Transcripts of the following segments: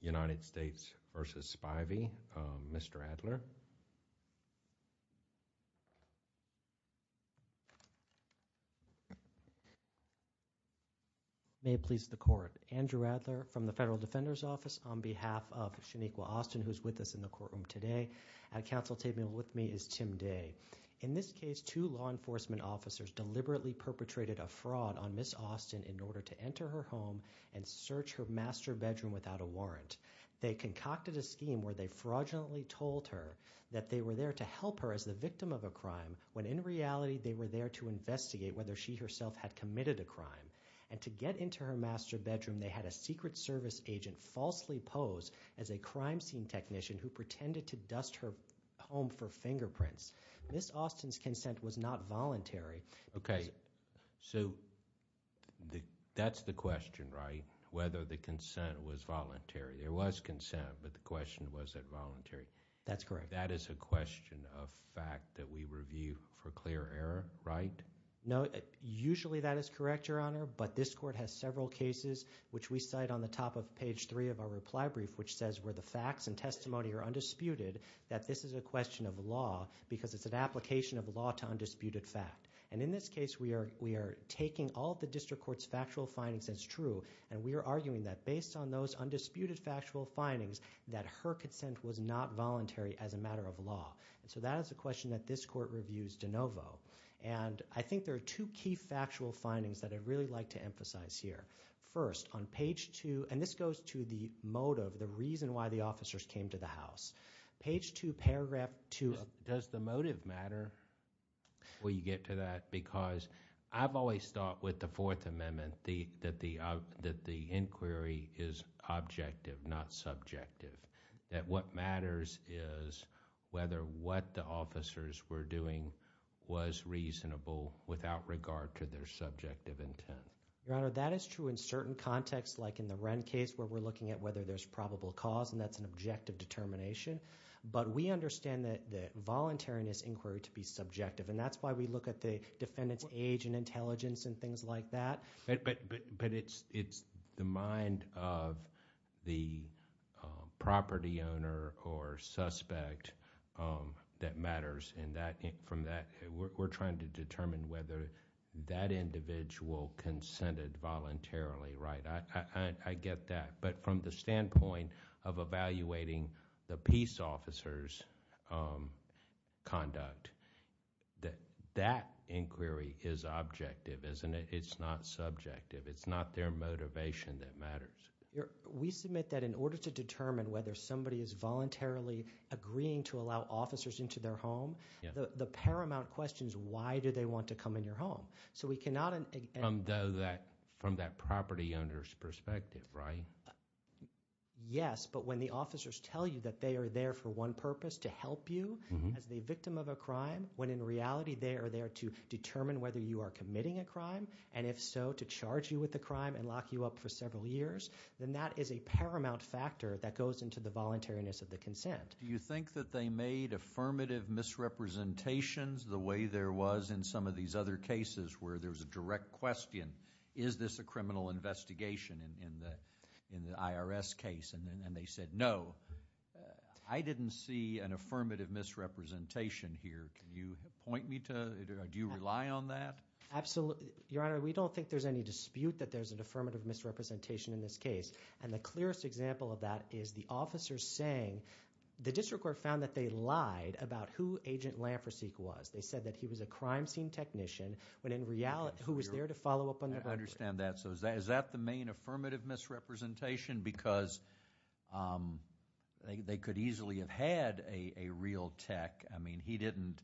United States v. Spivey. Mr. Adler. May it please the court. Andrew Adler from the Federal Defender's Office on behalf of Shaniqua Austin who's with us in the courtroom today. At counsel table with me is Tim Day. In this case two law enforcement officers deliberately perpetrated a fraud on Miss Austin in order to enter her home and search her master bedroom without a warrant. They concocted a scheme where they fraudulently told her that they were there to help her as the victim of a crime when in reality they were there to investigate whether she herself had committed a crime. And to get into her master bedroom they had a Secret Service agent falsely pose as a crime scene technician who pretended to dust her home for fingerprints. Miss Austin's consent was not voluntary. Okay so the that's the question right? Whether the consent was voluntary. There was consent but the question was it voluntary. That's correct. That is a question of fact that we review for clear error right? No usually that is correct your honor but this court has several cases which we cite on the top of page three of our reply brief which says where the facts and testimony are undisputed that this is a question of law because it's an application of law to undisputed fact. And in this case we are we are taking all the district court's factual findings as true and we are arguing that based on those undisputed factual findings that her consent was not voluntary as a matter of law. And so that is a question that this court reviews de novo. And I think there are two key factual findings that I'd really like to emphasize here. First on page two and this goes to the motive the reason why the officers came to the house. Page two Does the motive matter? Will you get to that? Because I've always thought with the Fourth Amendment the that the that the inquiry is objective not subjective. That what matters is whether what the officers were doing was reasonable without regard to their subjective intent. Your honor that is true in certain contexts like in the Wren case where we're looking at whether there's a probable cause and that's an objective determination. But we understand that the voluntariness inquiry to be subjective and that's why we look at the defendants age and intelligence and things like that. But but but it's it's the mind of the property owner or suspect that matters and that from that we're trying to determine whether that individual consented voluntarily right. I get that but from the standpoint of evaluating the peace officers conduct that that inquiry is objective isn't it it's not subjective it's not their motivation that matters. We submit that in order to determine whether somebody is voluntarily agreeing to allow officers into their home the paramount question is why do they want to come in your home? So we cannot and though that from that property owners perspective right. Yes but when the officers tell you that they are there for one purpose to help you as the victim of a crime when in reality they are there to determine whether you are committing a crime and if so to charge you with the crime and lock you up for several years then that is a paramount factor that goes into the voluntariness of the consent. Do you think that they made affirmative misrepresentations the way there was in some of these other cases where there was a direct question is this a criminal investigation in the in the IRS case and then they said no I didn't see an affirmative misrepresentation here can you point me to do you rely on that? Absolutely your honor we don't think there's any dispute that there's an affirmative misrepresentation in this case and the clearest example of that is the officers saying the district court found that they lied about who agent Lamprosy was they said that he was a crime scene technician when in reality who was there to follow up on that. I understand that so is that is that the main affirmative misrepresentation because they could easily have had a real tech I mean he didn't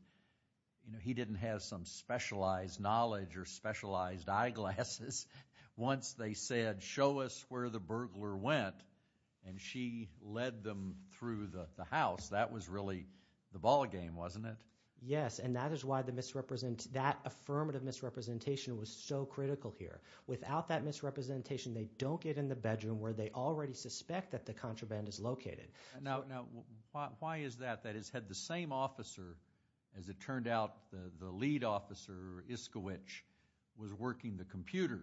you know he didn't have some specialized knowledge or specialized eyeglasses once they said show us where the burglar went and she led them through the house that was really the ballgame wasn't it? Yes and that is why the misrepresent that affirmative misrepresentation was so critical here without that misrepresentation they don't get in the bedroom where they already suspect that the contraband is located. Now why is that that has had the same officer as it turned out the lead officer Iskowich was working the computer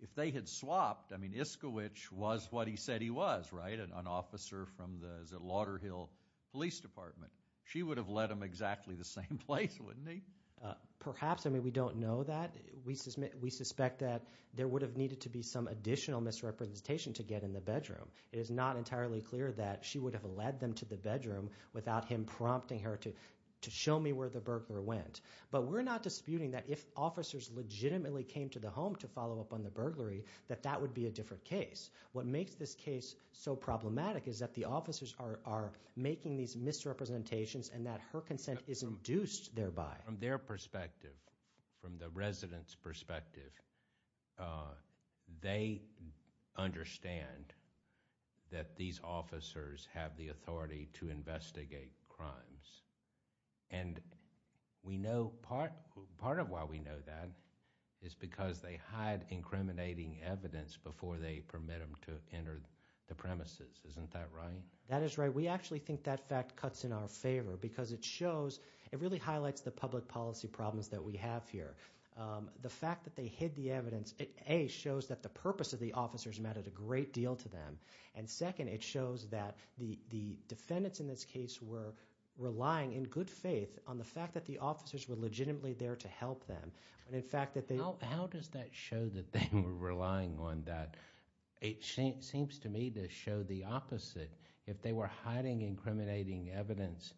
if they had swapped I mean Iskowich was what he said he was right an officer from the Lauder Hill Police Department she would have led him exactly the same place wouldn't he? Perhaps I mean we don't know that we suspect we suspect that there would have needed to be some additional misrepresentation to get in the bedroom it is not entirely clear that she would have led them to the bedroom without him prompting her to to show me where the burglar went but we're not disputing that if officers legitimately came to the home to follow up on the burglary that that would be a different case what makes this case so problematic is that the officers are making these misrepresentations and that her consent is induced thereby. From their perspective from the residents perspective they understand that these officers have the authority to investigate crimes and we they permit them to enter the premises isn't that right? That is right we actually think that fact cuts in our favor because it shows it really highlights the public policy problems that we have here the fact that they hid the evidence it a shows that the purpose of the officers mattered a great deal to them and second it shows that the the defendants in this case were relying in good faith on the fact that the officers were legitimately there to help them and how does that show that they were relying on that it seems to me to show the opposite if they were hiding incriminating evidence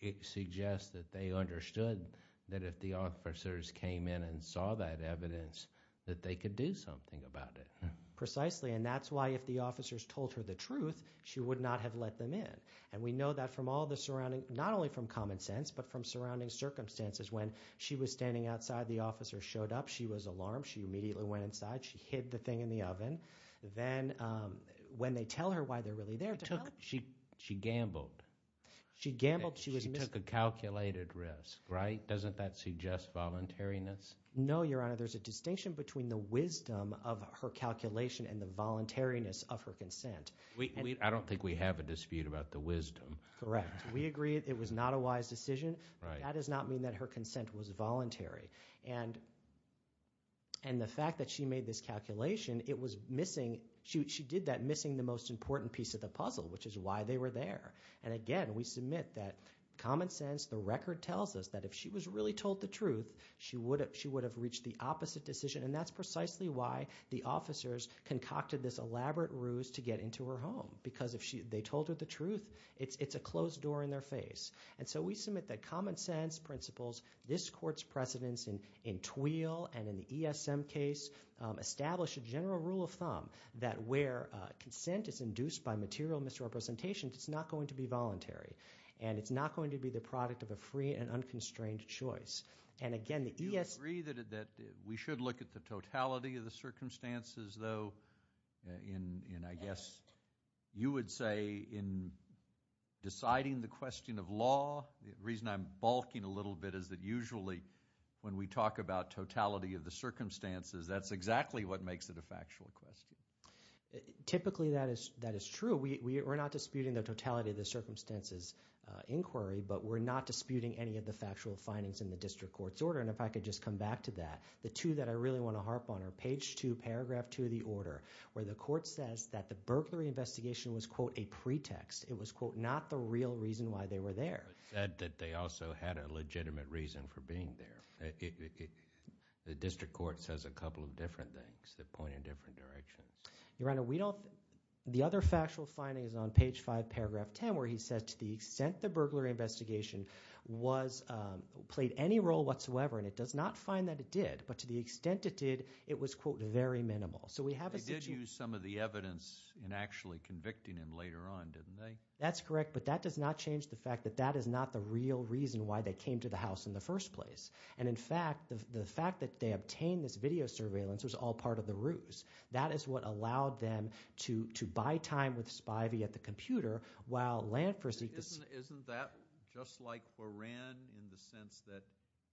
it suggests that they understood that if the officers came in and saw that evidence that they could do something about it. Precisely and that's why if the officers told her the truth she would not have let them in and we know that from all the surrounding not only from common sense but from surrounding circumstances when she was standing outside the officer showed up she was alarmed she immediately went inside she hid the thing in the oven then when they tell her why they're really there she she gambled she gambled she was took a calculated risk right doesn't that suggest voluntariness? No your honor there's a distinction between the wisdom of her calculation and the voluntariness of her consent. I don't think we have a dispute about the wisdom. Correct we agree it was not a wise decision that does not mean that her consent was voluntary and and the fact that she made this calculation it was missing she did that missing the most important piece of the puzzle which is why they were there and again we submit that common sense the record tells us that if she was really told the truth she would have she would have reached the opposite decision and that's precisely why the officers concocted this elaborate ruse to get into her home because if she they told her the truth it's it's a closed door in their face and so we submit that common sense principles this court's precedence in in Tweal and in the ESM case established a general rule of thumb that where consent is induced by material misrepresentation it's not going to be voluntary and it's not going to be the product of a free and unconstrained choice and again the ESM... Do you agree that we should look at the totality of the circumstances though in I guess you would say in deciding the question of law reason I'm bulking a little bit is that usually when we talk about totality of the circumstances that's exactly what makes it a factual question. Typically that is that is true we are not disputing the totality of the circumstances inquiry but we're not disputing any of the factual findings in the district court's order and if I could just come back to that the two that I really want to harp on our page two paragraph two of the order where the court says that the burglary investigation was quote a pretext it was quote not the real reason why they were there. It said that they also had a legitimate reason for being there. The district court says a couple of different things that point in different directions. Your Honor we don't the other factual findings on page five paragraph ten where he says to the extent the burglary investigation was played any role whatsoever and it does not find that it did but to the extent it did it was quote very minimal so we have a situation... They did use some of the That's correct but that does not change the fact that that is not the real reason why they came to the house in the first place and in fact the fact that they obtained this video surveillance was all part of the ruse. That is what allowed them to to buy time with Spivey at the computer while Lantford... Isn't that just like for Wren in the sense that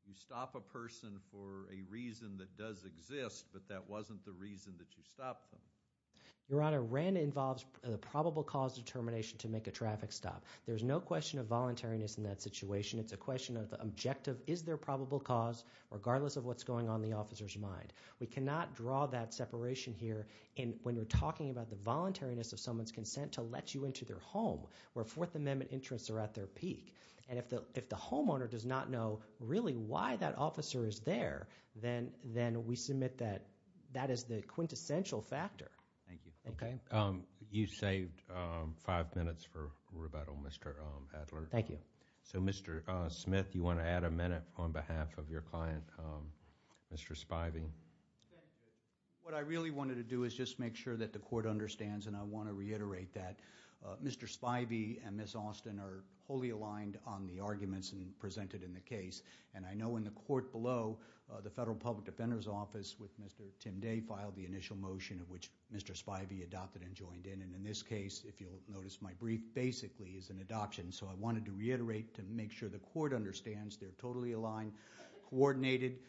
you stop a person for a reason that does exist but that wasn't the reason that you stopped them? Your Honor, Wren involves the probable cause determination to make a traffic stop. There's no question of voluntariness in that situation. It's a question of the objective. Is there probable cause regardless of what's going on in the officer's mind? We cannot draw that separation here when we're talking about the voluntariness of someone's consent to let you into their home where Fourth Amendment interests are at their peak and if the homeowner does not know really why that officer is there then we submit that that is the quintessential factor. Thank you. Okay, you saved five minutes for rebuttal Mr. Adler. Thank you. So Mr. Smith you want to add a minute on behalf of your client Mr. Spivey. What I really wanted to do is just make sure that the court understands and I want to reiterate that Mr. Spivey and Ms. Austin are wholly aligned on the arguments and presented in the case and I know in the court below the Federal Public Defender's Office with Mr. Tim Day filed the initial motion of which Mr. Spivey adopted and joined in and in this case if you'll notice my brief basically is an adoption so I wanted to reiterate to make sure the court understands they're totally aligned, coordinated.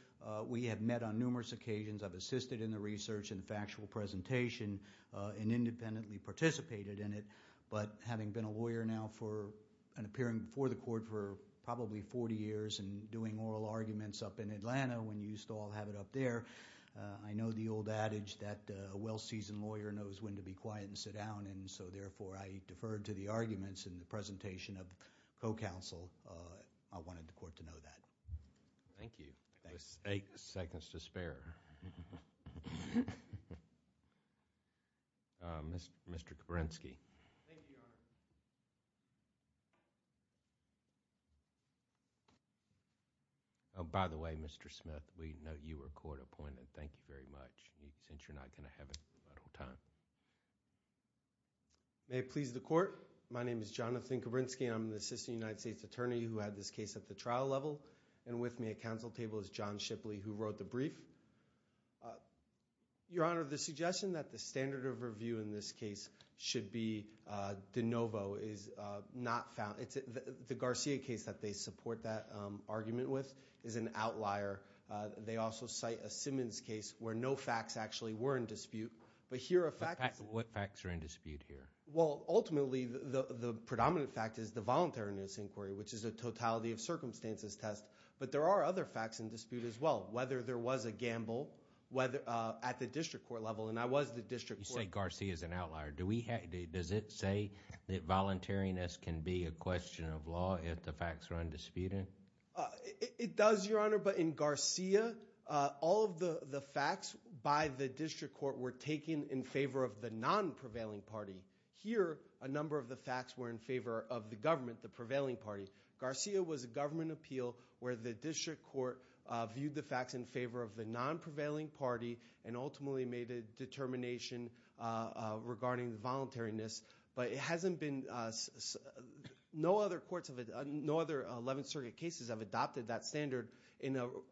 We have met on numerous occasions. I've assisted in the research and factual presentation and independently participated in it but having been a lawyer now for and appearing before the court for probably 40 years and doing oral arguments up in Atlanta when you used to all have it up there. I know the old adage that a well-seasoned lawyer knows when to be quiet and sit down and so therefore I deferred to the arguments in the presentation of co-counsel. I wanted the court to know that. Thank you. Thanks. Eight seconds to spare. Mr. Kerensky. Thank you, Your Honor. Oh, by the way, Mr. Smith, we know you were court appointed. Thank you very much. Since you're not going to have a little time. May it please the court. My name is Jonathan Kerensky. I'm the Assistant United States Attorney who had this case at the trial level and with me at counsel table is John Shipley who wrote the brief. Your Honor, the suggestion that the standard of review in this case should be de novo is not found. The Garcia case that they support that argument with is an outlier. They also cite a Simmons case where no facts actually were in dispute but here are facts. What facts are in dispute here? Well, ultimately the predominant fact is the voluntariness inquiry which is a totality of circumstances test but there are other facts in dispute as well. Whether there was a gamble at the district court level and I was at the district court. You say Garcia is an outlier. Does it say that voluntariness can be a question of law if the facts are undisputed? It does, Your Honor, but in Garcia, all of the facts by the district court were taken in favor of the non-prevailing party. Here, a number of the facts were in favor of the government, the prevailing party. Garcia was a government appeal where the district court viewed the facts in favor of the non-prevailing party and ultimately made a determination regarding the voluntariness. But it hasn't been, no other 11th Circuit cases have adopted that standard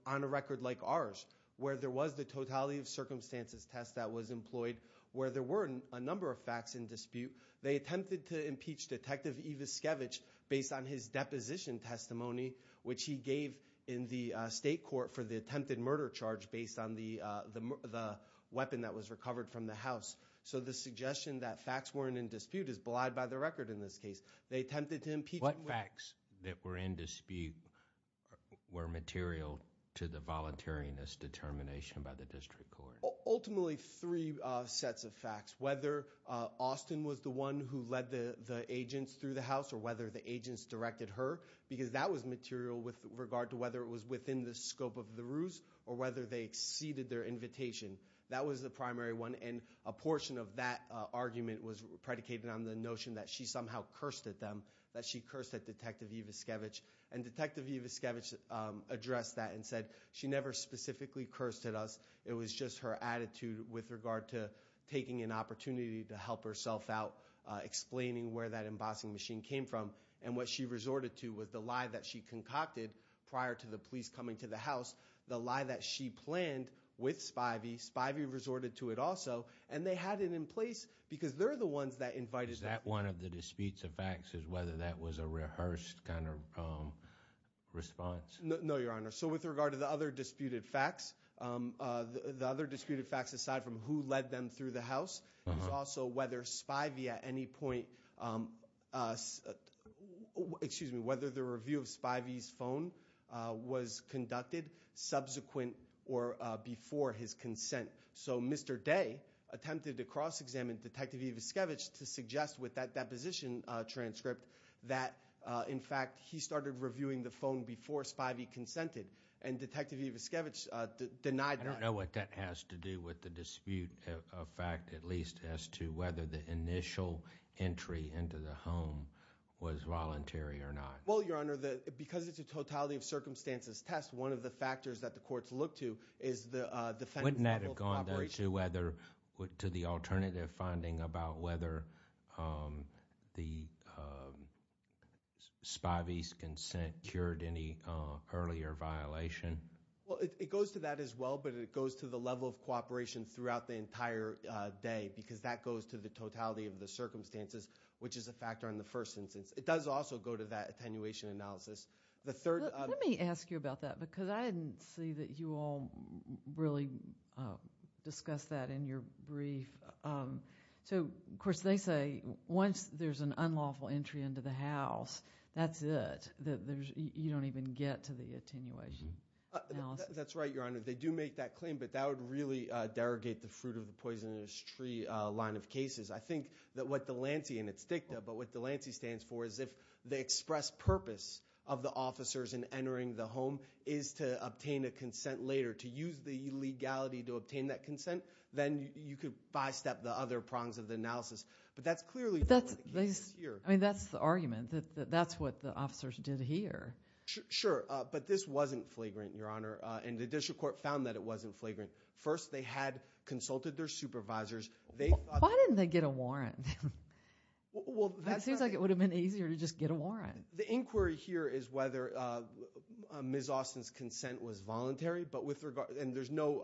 on a record like ours. Where there was the totality of circumstances test that was employed, where there weren't a number of facts in dispute. They attempted to impeach Detective Eviskevich based on his deposition testimony, which he gave in the state court for the attempted murder charge based on the weapon that was recovered from the house. So the suggestion that facts weren't in dispute is belied by the record in this case. They attempted to impeach- What facts that were in dispute were material to the voluntariness determination by the district court? Ultimately, three sets of facts. Whether Austin was the one who led the agents through the house, or whether the agents directed her. Because that was material with regard to whether it was within the scope of the ruse, or whether they exceeded their invitation. That was the primary one, and a portion of that argument was predicated on the notion that she somehow cursed at them. That she cursed at Detective Eviskevich. And Detective Eviskevich addressed that and said, she never specifically cursed at us. It was just her attitude with regard to taking an opportunity to help herself out, explaining where that embossing machine came from. And what she resorted to was the lie that she concocted prior to the police coming to the house, the lie that she planned with Spivey, Spivey resorted to it also. And they had it in place because they're the ones that invited- Is that one of the disputes of facts, is whether that was a rehearsed kind of response? No, your honor. So with regard to the other disputed facts, the other disputed facts aside from who led them through the house, is also whether Spivey at any point, excuse me, whether the review of Spivey's phone was conducted subsequent or before his consent. So Mr. Day attempted to cross-examine Detective Eviskevich to suggest with that deposition transcript that in fact he started reviewing the phone before Spivey consented and Detective Eviskevich denied that. I don't know what that has to do with the dispute of fact, at least as to whether the initial entry into the home was voluntary or not. Well, your honor, because it's a totality of circumstances test, one of the factors that the courts look to is the defense- Has Spivey's consent cured any earlier violation? Well, it goes to that as well, but it goes to the level of cooperation throughout the entire day, because that goes to the totality of the circumstances, which is a factor in the first instance. It does also go to that attenuation analysis. The third- Let me ask you about that, because I didn't see that you all really discussed that in your brief. So, of course, they say once there's an unlawful entry into the house, that's it, that you don't even get to the attenuation analysis. That's right, your honor. They do make that claim, but that would really derogate the fruit of the poisonous tree line of cases. I think that what Delancey, and it's DICTA, but what Delancey stands for is if the express purpose of the officers in entering the home is to obtain a consent later, to use the legality to obtain that consent, then you could by-step the other prongs of the analysis. But that's clearly not what the case is here. I mean, that's the argument, that that's what the officers did here. Sure, but this wasn't flagrant, your honor, and the district court found that it wasn't flagrant. First, they had consulted their supervisors. They thought- Why didn't they get a warrant? It seems like it would have been easier to just get a warrant. The inquiry here is whether Ms. Austin's consent was voluntary, but with regard, and there's no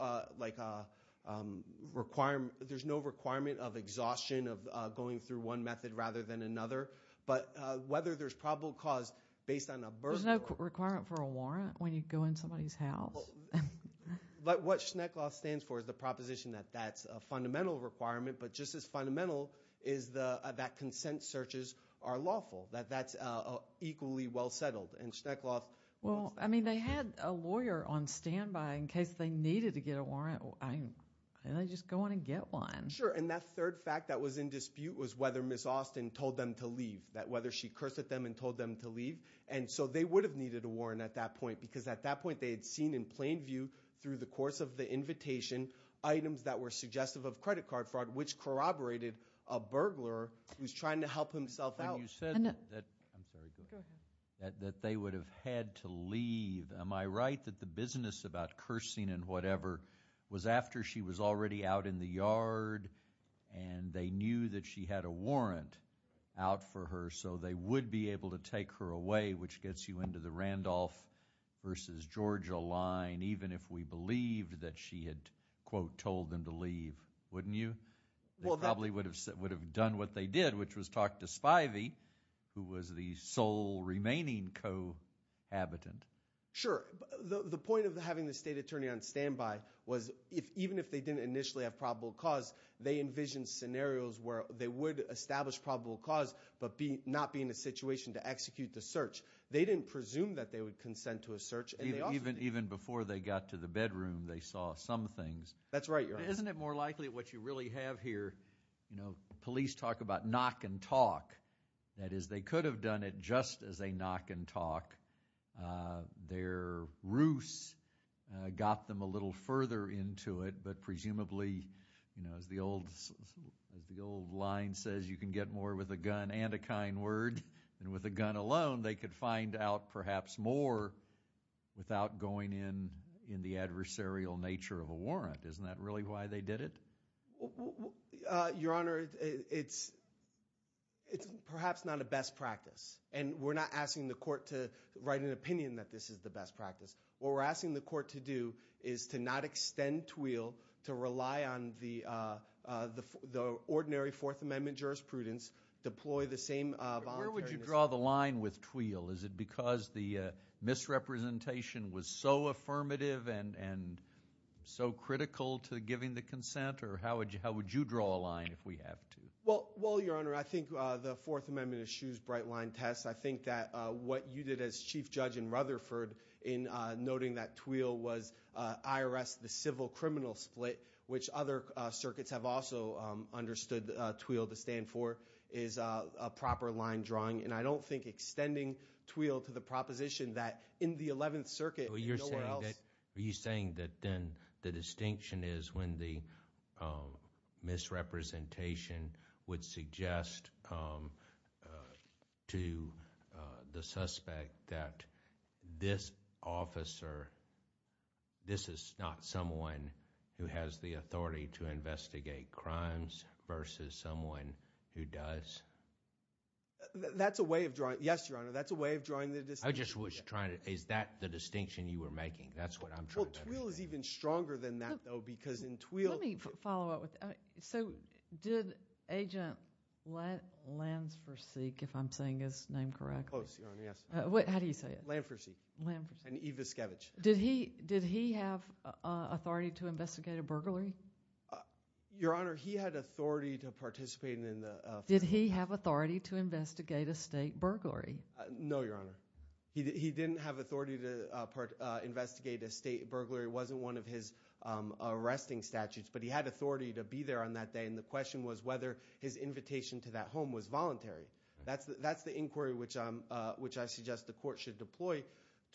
requirement of exhaustion of going through one method rather than another. But whether there's probable cause based on a burden or- There's no requirement for a warrant when you go in somebody's house. But what Schnecklaw stands for is the proposition that that's a fundamental requirement, but just as fundamental is that consent searches are lawful, that that's equally well settled. And Schnecklaw- Well, I mean, they had a lawyer on standby in case they needed to get a warrant. I mean, they just go in and get one. Sure, and that third fact that was in dispute was whether Ms. Austin told them to leave, that whether she cursed at them and told them to leave. And so they would have needed a warrant at that point, because at that point they had seen in plain view through the course of the invitation items that were suggestive of credit card fraud, which corroborated a burglar who's trying to help himself out. And you said that- I'm sorry, go ahead. That they would have had to leave. Am I right that the business about cursing and whatever was after she was already out in the yard and they knew that she had a warrant out for her so they would be able to take her away, which gets you into the Randolph versus Georgia line, even if we believed that she had, quote, told them to leave, wouldn't you? They probably would have done what they did, which was talk to Spivey, who was the sole remaining cohabitant. Sure, the point of having the state attorney on standby was, even if they didn't initially have probable cause, they envisioned scenarios where they would establish probable cause, but not be in a situation to execute the search. They didn't presume that they would consent to a search, and they also- Even before they got to the bedroom, they saw some things. That's right, Your Honor. Isn't it more likely what you really have here, police talk about knock and talk. That is, they could have done it just as a knock and talk. Their ruse got them a little further into it, but as the old line says, you can get more with a gun and a kind word. And with a gun alone, they could find out perhaps more without going in the adversarial nature of a warrant. Isn't that really why they did it? Your Honor, it's perhaps not a best practice. And we're not asking the court to write an opinion that this is the best practice. What we're asking the court to do is to not extend TWEAL, to rely on the ordinary Fourth Amendment jurisprudence, deploy the same voluntary- Where would you draw the line with TWEAL? Is it because the misrepresentation was so affirmative and so critical to giving the consent, or how would you draw a line if we have to? Well, Your Honor, I think the Fourth Amendment eschews bright line tests. I think that what you did as Chief Judge in Rutherford in noting that TWEAL was IRS, the civil criminal split, which other circuits have also understood TWEAL to stand for, is a proper line drawing. And I don't think extending TWEAL to the proposition that in the 11th Circuit, nowhere else- Are you saying that then the distinction is when the misrepresentation would suggest to the suspect that this officer, this is not someone who has the authority to investigate crimes versus someone who does? That's a way of drawing, yes, Your Honor, that's a way of drawing the distinction. I just was trying to, is that the distinction you were making? That's what I'm trying to understand. Well, TWEAL is even stronger than that, though, because in TWEAL- Let me follow up with that. So, did Agent Lansforsyke, if I'm saying his name correctly- Close, Your Honor, yes. What, how do you say it? Lansforsyke. Lansforsyke. And Eviskevich. Did he have authority to investigate a burglary? Your Honor, he had authority to participate in the- Did he have authority to investigate a state burglary? No, Your Honor. He didn't have authority to investigate a state burglary. It wasn't one of his arresting statutes, but he had authority to be there on that day. And the question was whether his invitation to that home was voluntary. That's the inquiry which I suggest the court should deploy.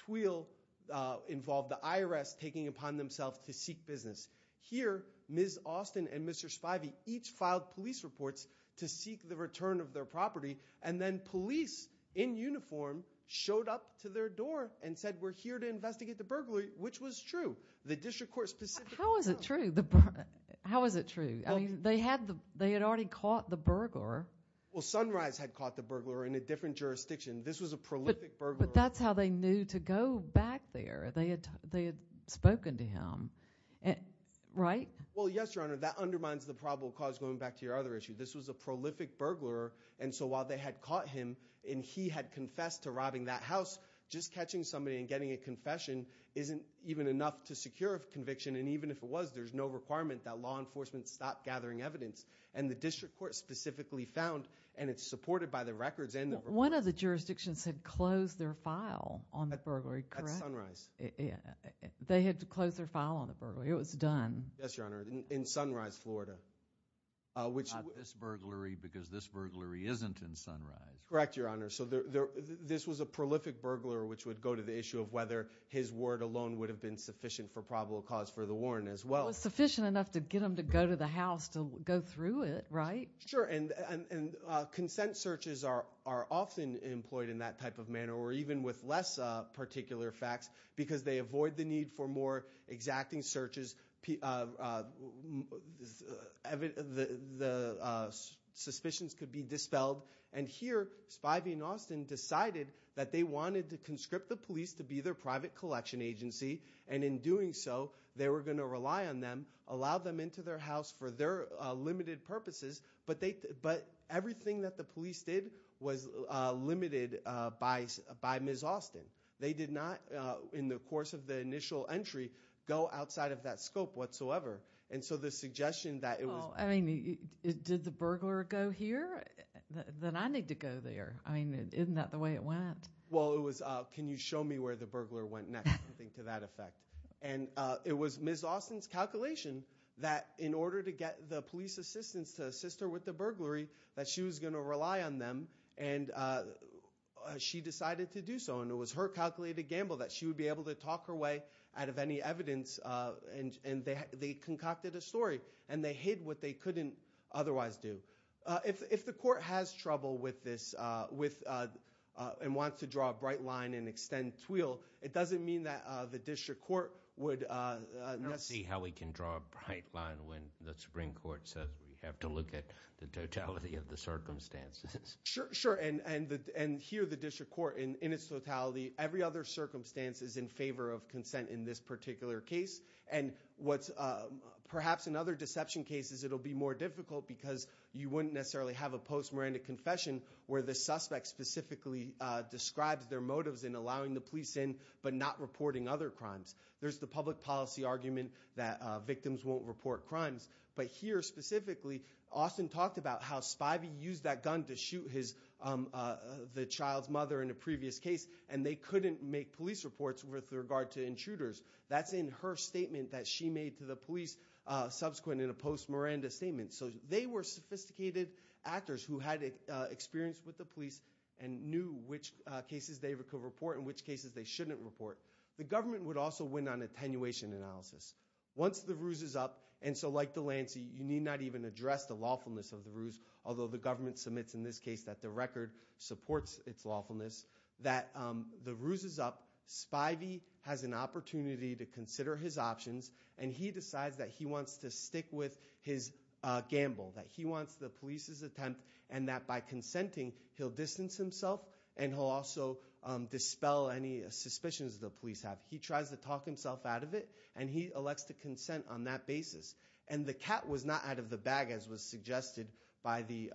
TWEAL involved the IRS taking upon themselves to seek business. Here, Ms. Austin and Mr. Spivey each filed police reports to seek the return of their property. And then police in uniform showed up to their door and said, we're here to investigate the burglary, which was true. The district court specifically- How is it true? How is it true? I mean, they had already caught the burglar. Well, Sunrise had caught the burglar in a different jurisdiction. This was a prolific burglar. But that's how they knew to go back there. They had spoken to him, right? Well, yes, Your Honor. That undermines the probable cause going back to your other issue. This was a prolific burglar. And so while they had caught him and he had confessed to robbing that house, just catching somebody and getting a confession isn't even enough to secure a conviction. And even if it was, there's no requirement that law enforcement stop gathering evidence. And the district court specifically found, and it's supported by the records and the- One of the jurisdictions had closed their file on the burglary, correct? That's Sunrise. They had to close their file on the burglary. It was done. Yes, Your Honor, in Sunrise, Florida. Which- This burglary because this burglary isn't in Sunrise. Correct, Your Honor. So this was a prolific burglar, which would go to the issue of whether his word alone would have been sufficient for probable cause for the warrant as well. It was sufficient enough to get him to go to the house to go through it, right? Sure, and consent searches are often employed in that type of manner, or even with less particular facts, because they avoid the need for more exacting searches, the suspicions could be dispelled. And here, Spivey and Austin decided that they wanted to conscript the police to be their private collection agency, and in doing so, they were going to rely on them, allow them into their house for their limited purposes, but everything that the police did was limited by Ms. Austin. They did not, in the course of the initial entry, go outside of that scope whatsoever. And so the suggestion that it was- Well, I mean, did the burglar go here? Then I need to go there. I mean, isn't that the way it went? Well, it was, can you show me where the burglar went next? Something to that effect. And it was Ms. Austin's calculation that in order to get the police assistants to assist her with the burglary, that she was going to rely on them, and she decided to do so. And it was her calculated gamble that she would be able to talk her way out of any evidence, and they concocted a story, and they hid what they couldn't otherwise do. If the court has trouble with this and wants to draw a bright line and extend TWIL, it doesn't mean that the district court would- I don't see how we can draw a bright line when the Supreme Court says we have to look at the totality of the circumstances. Sure, sure. And here, the district court, in its totality, every other circumstance is in favor of consent in this particular case. And perhaps in other deception cases, it'll be more difficult because you wouldn't necessarily have a post-morandum confession where the suspect specifically describes their motives in allowing the police in but not reporting other crimes. There's the public policy argument that victims won't report crimes. But here, specifically, Austin talked about how Spivey used that gun to shoot the child's with regard to intruders. That's in her statement that she made to the police subsequent in a post-Miranda statement. So they were sophisticated actors who had experience with the police and knew which cases they could report and which cases they shouldn't report. The government would also win on attenuation analysis. Once the ruse is up, and so like Delancey, you need not even address the lawfulness of the ruse, although the government submits in this case that the record supports its has an opportunity to consider his options and he decides that he wants to stick with his gamble, that he wants the police's attempt and that by consenting, he'll distance himself and he'll also dispel any suspicions the police have. He tries to talk himself out of it and he elects to consent on that basis. And the cat was not out of the bag as was suggested by the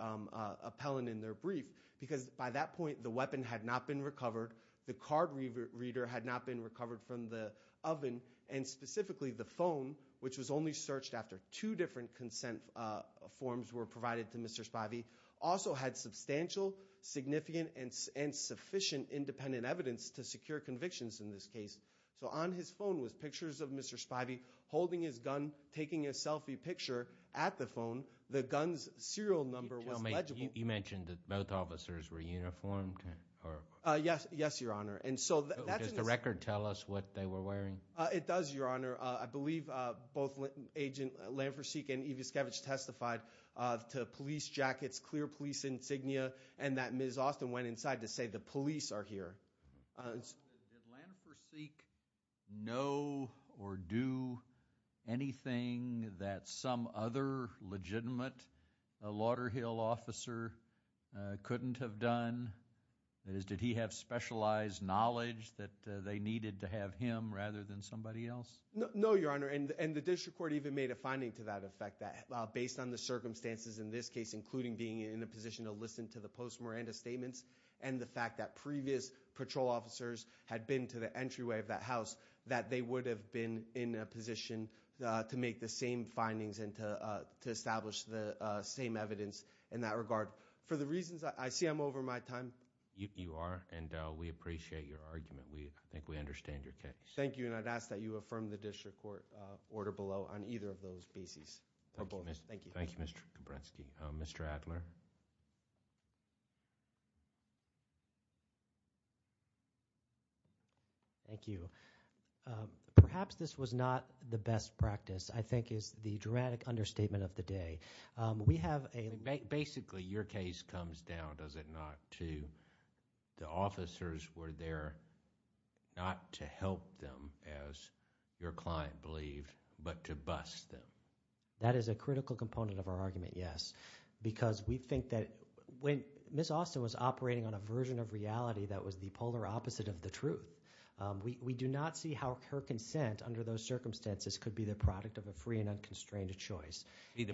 appellant in their brief because by that point, the weapon had not been recovered. The card reader had not been recovered from the oven and specifically the phone, which was only searched after two different consent forms were provided to Mr. Spivey, also had substantial, significant, and sufficient independent evidence to secure convictions in this case. So on his phone was pictures of Mr. Spivey holding his gun, taking a selfie picture at the phone. The gun's serial number was illegible. You mentioned that both officers were uniformed? Yes. Yes, Your Honor. And so does the record tell us what they were wearing? It does, Your Honor. I believe both Agent Lanforseek and Evaskevich testified to police jackets, clear police insignia, and that Ms. Austin went inside to say the police are here. Did Lanforseek know or do anything that some other legitimate Lauderhill officer couldn't have done? That is, did he have specialized knowledge that they needed to have him rather than somebody else? No, Your Honor. And the district court even made a finding to that effect that based on the circumstances in this case, including being in a position to listen to the post-Miranda statements and the fact that previous patrol officers had been to the entryway of that house, that they would have been in a position to make the same findings and to establish the same evidence in that regard. For the reasons I see, I'm over my time. You are. And we appreciate your argument. We think we understand your case. Thank you. And I'd ask that you affirm the district court order below on either of those basis. Thank you. Thank you, Mr. Kabretzky. Mr. Adler. Thank you. Perhaps this was not the best practice, I think, is the dramatic understatement of the day. We have a... Basically, your case comes down, does it not, to the officers were there not to help them as your client believed, but to bust them. That is a critical component of our argument, yes, because we think that when Ms. Austin was operating on a version of reality that was the polar opposite of the truth, we do not see how her consent under those circumstances could be the product of a free and unconstrained choice. They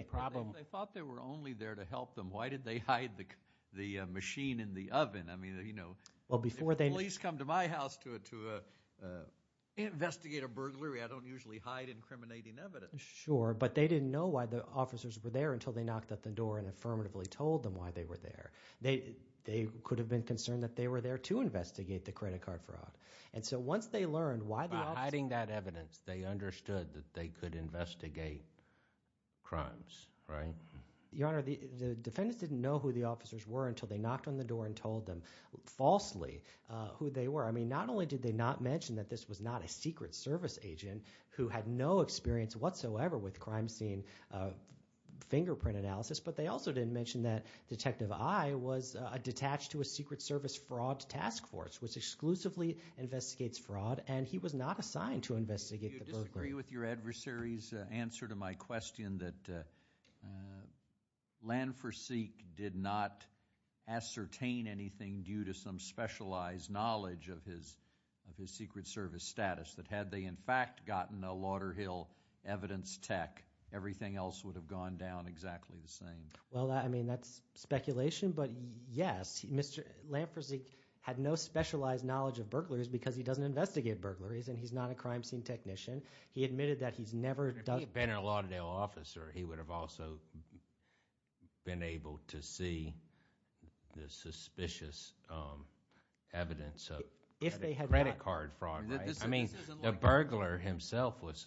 thought they were only there to help them. Why did they hide the machine in the oven? I mean, you know... Well, before they... If the police come to my house to investigate a burglary, I don't usually hide incriminating evidence. Sure, but they didn't know why the officers were there until they knocked at the door and affirmatively told them why they were there. They could have been concerned that they were there to investigate the credit card fraud. And so once they learned why the officers... Your Honor, the defendants didn't know who the officers were until they knocked on the door and told them falsely who they were. I mean, not only did they not mention that this was not a Secret Service agent who had no experience whatsoever with crime scene fingerprint analysis, but they also didn't mention that Detective I was detached to a Secret Service Fraud Task Force, which exclusively investigates fraud, and he was not assigned to investigate the burglary. I agree with your adversary's answer to my question that Landfor-Seek did not ascertain anything due to some specialized knowledge of his Secret Service status, that had they in fact gotten a Lauder Hill evidence tech, everything else would have gone down exactly the same. Well, I mean, that's speculation, but yes, Landfor-Seek had no specialized knowledge of burglaries because he doesn't investigate burglaries and he's not a crime scene technician. He admitted that he's never... If he had been a Lauderdale officer, he would have also been able to see the suspicious evidence of credit card fraud, right? I mean, the burglar himself was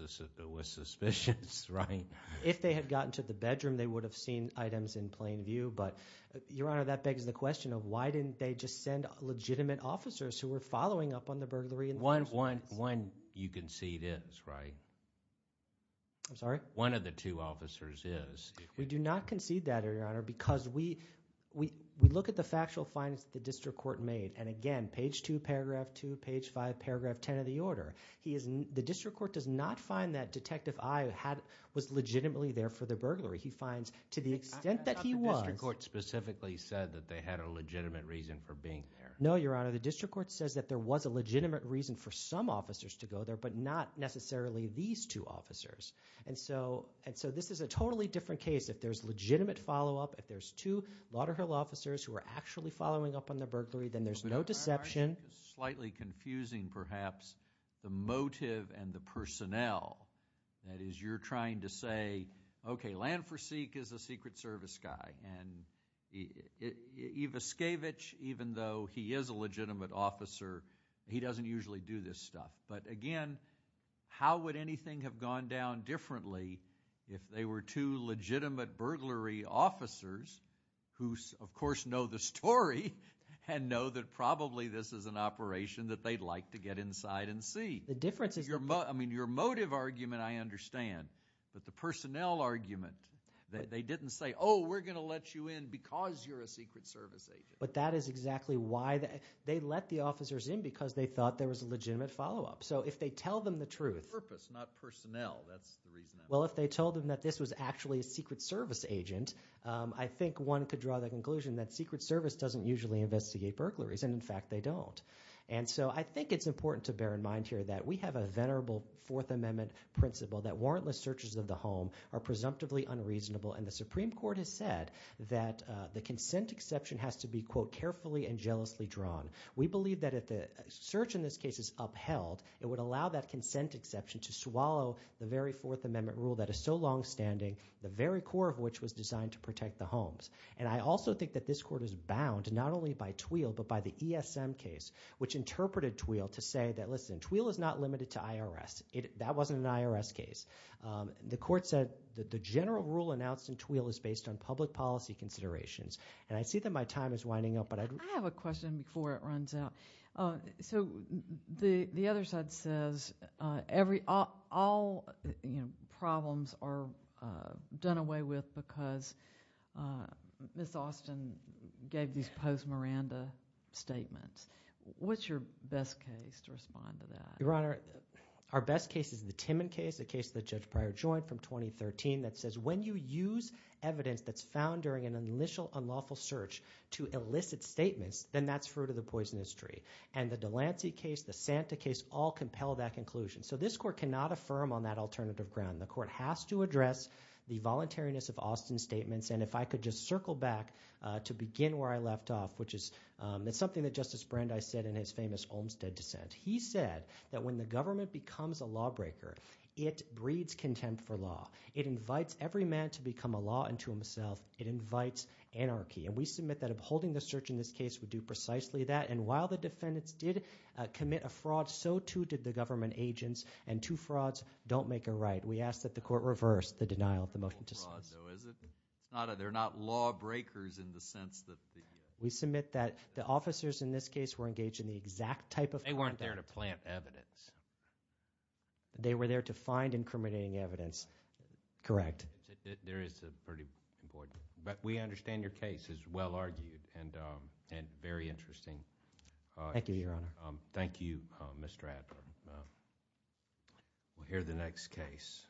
suspicious, right? If they had gotten to the bedroom, they would have seen items in plain view, but, Your Honor, that begs the question of why didn't they just send legitimate officers who were following up on the burglary in the first place? One, you concede, is, right? I'm sorry? One of the two officers is. We do not concede that, Your Honor, because we look at the factual findings that the district court made, and again, page 2, paragraph 2, page 5, paragraph 10 of the order, the district court does not find that Detective I was legitimately there for the burglary. He finds, to the extent that he was... I thought the district court specifically said that they had a legitimate reason for being there. No, Your Honor, the district court says that there was a legitimate reason for some officers to go there, but not necessarily these two officers, and so this is a totally different case. If there's legitimate follow-up, if there's two Lauderdale officers who are actually following up on the burglary, then there's no deception... But I find it slightly confusing, perhaps, the motive and the personnel. That is, you're trying to say, okay, Lanforseek is a Secret Service guy, and Ivaskievich, even though he is a legitimate officer, he doesn't usually do this stuff. But again, how would anything have gone down differently if they were two legitimate burglary officers who, of course, know the story and know that probably this is an operation that they'd like to get inside and see? The difference is... I mean, your motive argument I understand, but the personnel argument, they didn't say, oh, we're going to let you in because you're a Secret Service agent. But that is exactly why they let the officers in, because they thought there was a legitimate follow-up. So if they tell them the truth... Purpose, not personnel. That's the reason. Well, if they told them that this was actually a Secret Service agent, I think one could draw the conclusion that Secret Service doesn't usually investigate burglaries, and in fact, they don't. And so I think it's important to bear in mind here that we have a venerable Fourth Amendment principle that warrantless searches of the home are presumptively unreasonable, and the We believe that if the search in this case is upheld, it would allow that consent exception to swallow the very Fourth Amendment rule that is so long-standing, the very core of which was designed to protect the homes. And I also think that this Court is bound not only by TWEAL, but by the ESM case, which interpreted TWEAL to say that, listen, TWEAL is not limited to IRS. That wasn't an IRS case. The Court said that the general rule announced in TWEAL is based on public policy considerations, and I see that my time is winding up, but I'd— I have a question before it runs out. So the other side says all problems are done away with because Ms. Austin gave these post-Miranda statements. What's your best case to respond to that? Your Honor, our best case is the Timmon case, the case that Judge Breyer joined from 2013 that says when you use evidence that's found during an initial unlawful search to elicit statements, then that's fruit of the poisonous tree. And the Delancey case, the Santa case, all compel that conclusion. So this Court cannot affirm on that alternative ground. The Court has to address the voluntariness of Austin's statements, and if I could just circle back to begin where I left off, which is—it's something that Justice Brandeis said in his famous Olmstead dissent. He said that when the government becomes a lawbreaker, it breeds contempt for law. It invites every man to become a law unto himself. It invites anarchy. And we submit that upholding the search in this case would do precisely that. And while the defendants did commit a fraud, so too did the government agents. And two frauds don't make a right. We ask that the Court reverse the denial of the motion to dismiss. It's not a—they're not lawbreakers in the sense that the— We submit that the officers in this case were engaged in the exact type of— They weren't there to plant evidence. They were there to find incriminating evidence. Correct. There is a pretty important—but we understand your case is well argued and very interesting. Thank you, Your Honor. Thank you, Mr. Adler. We'll hear the next case.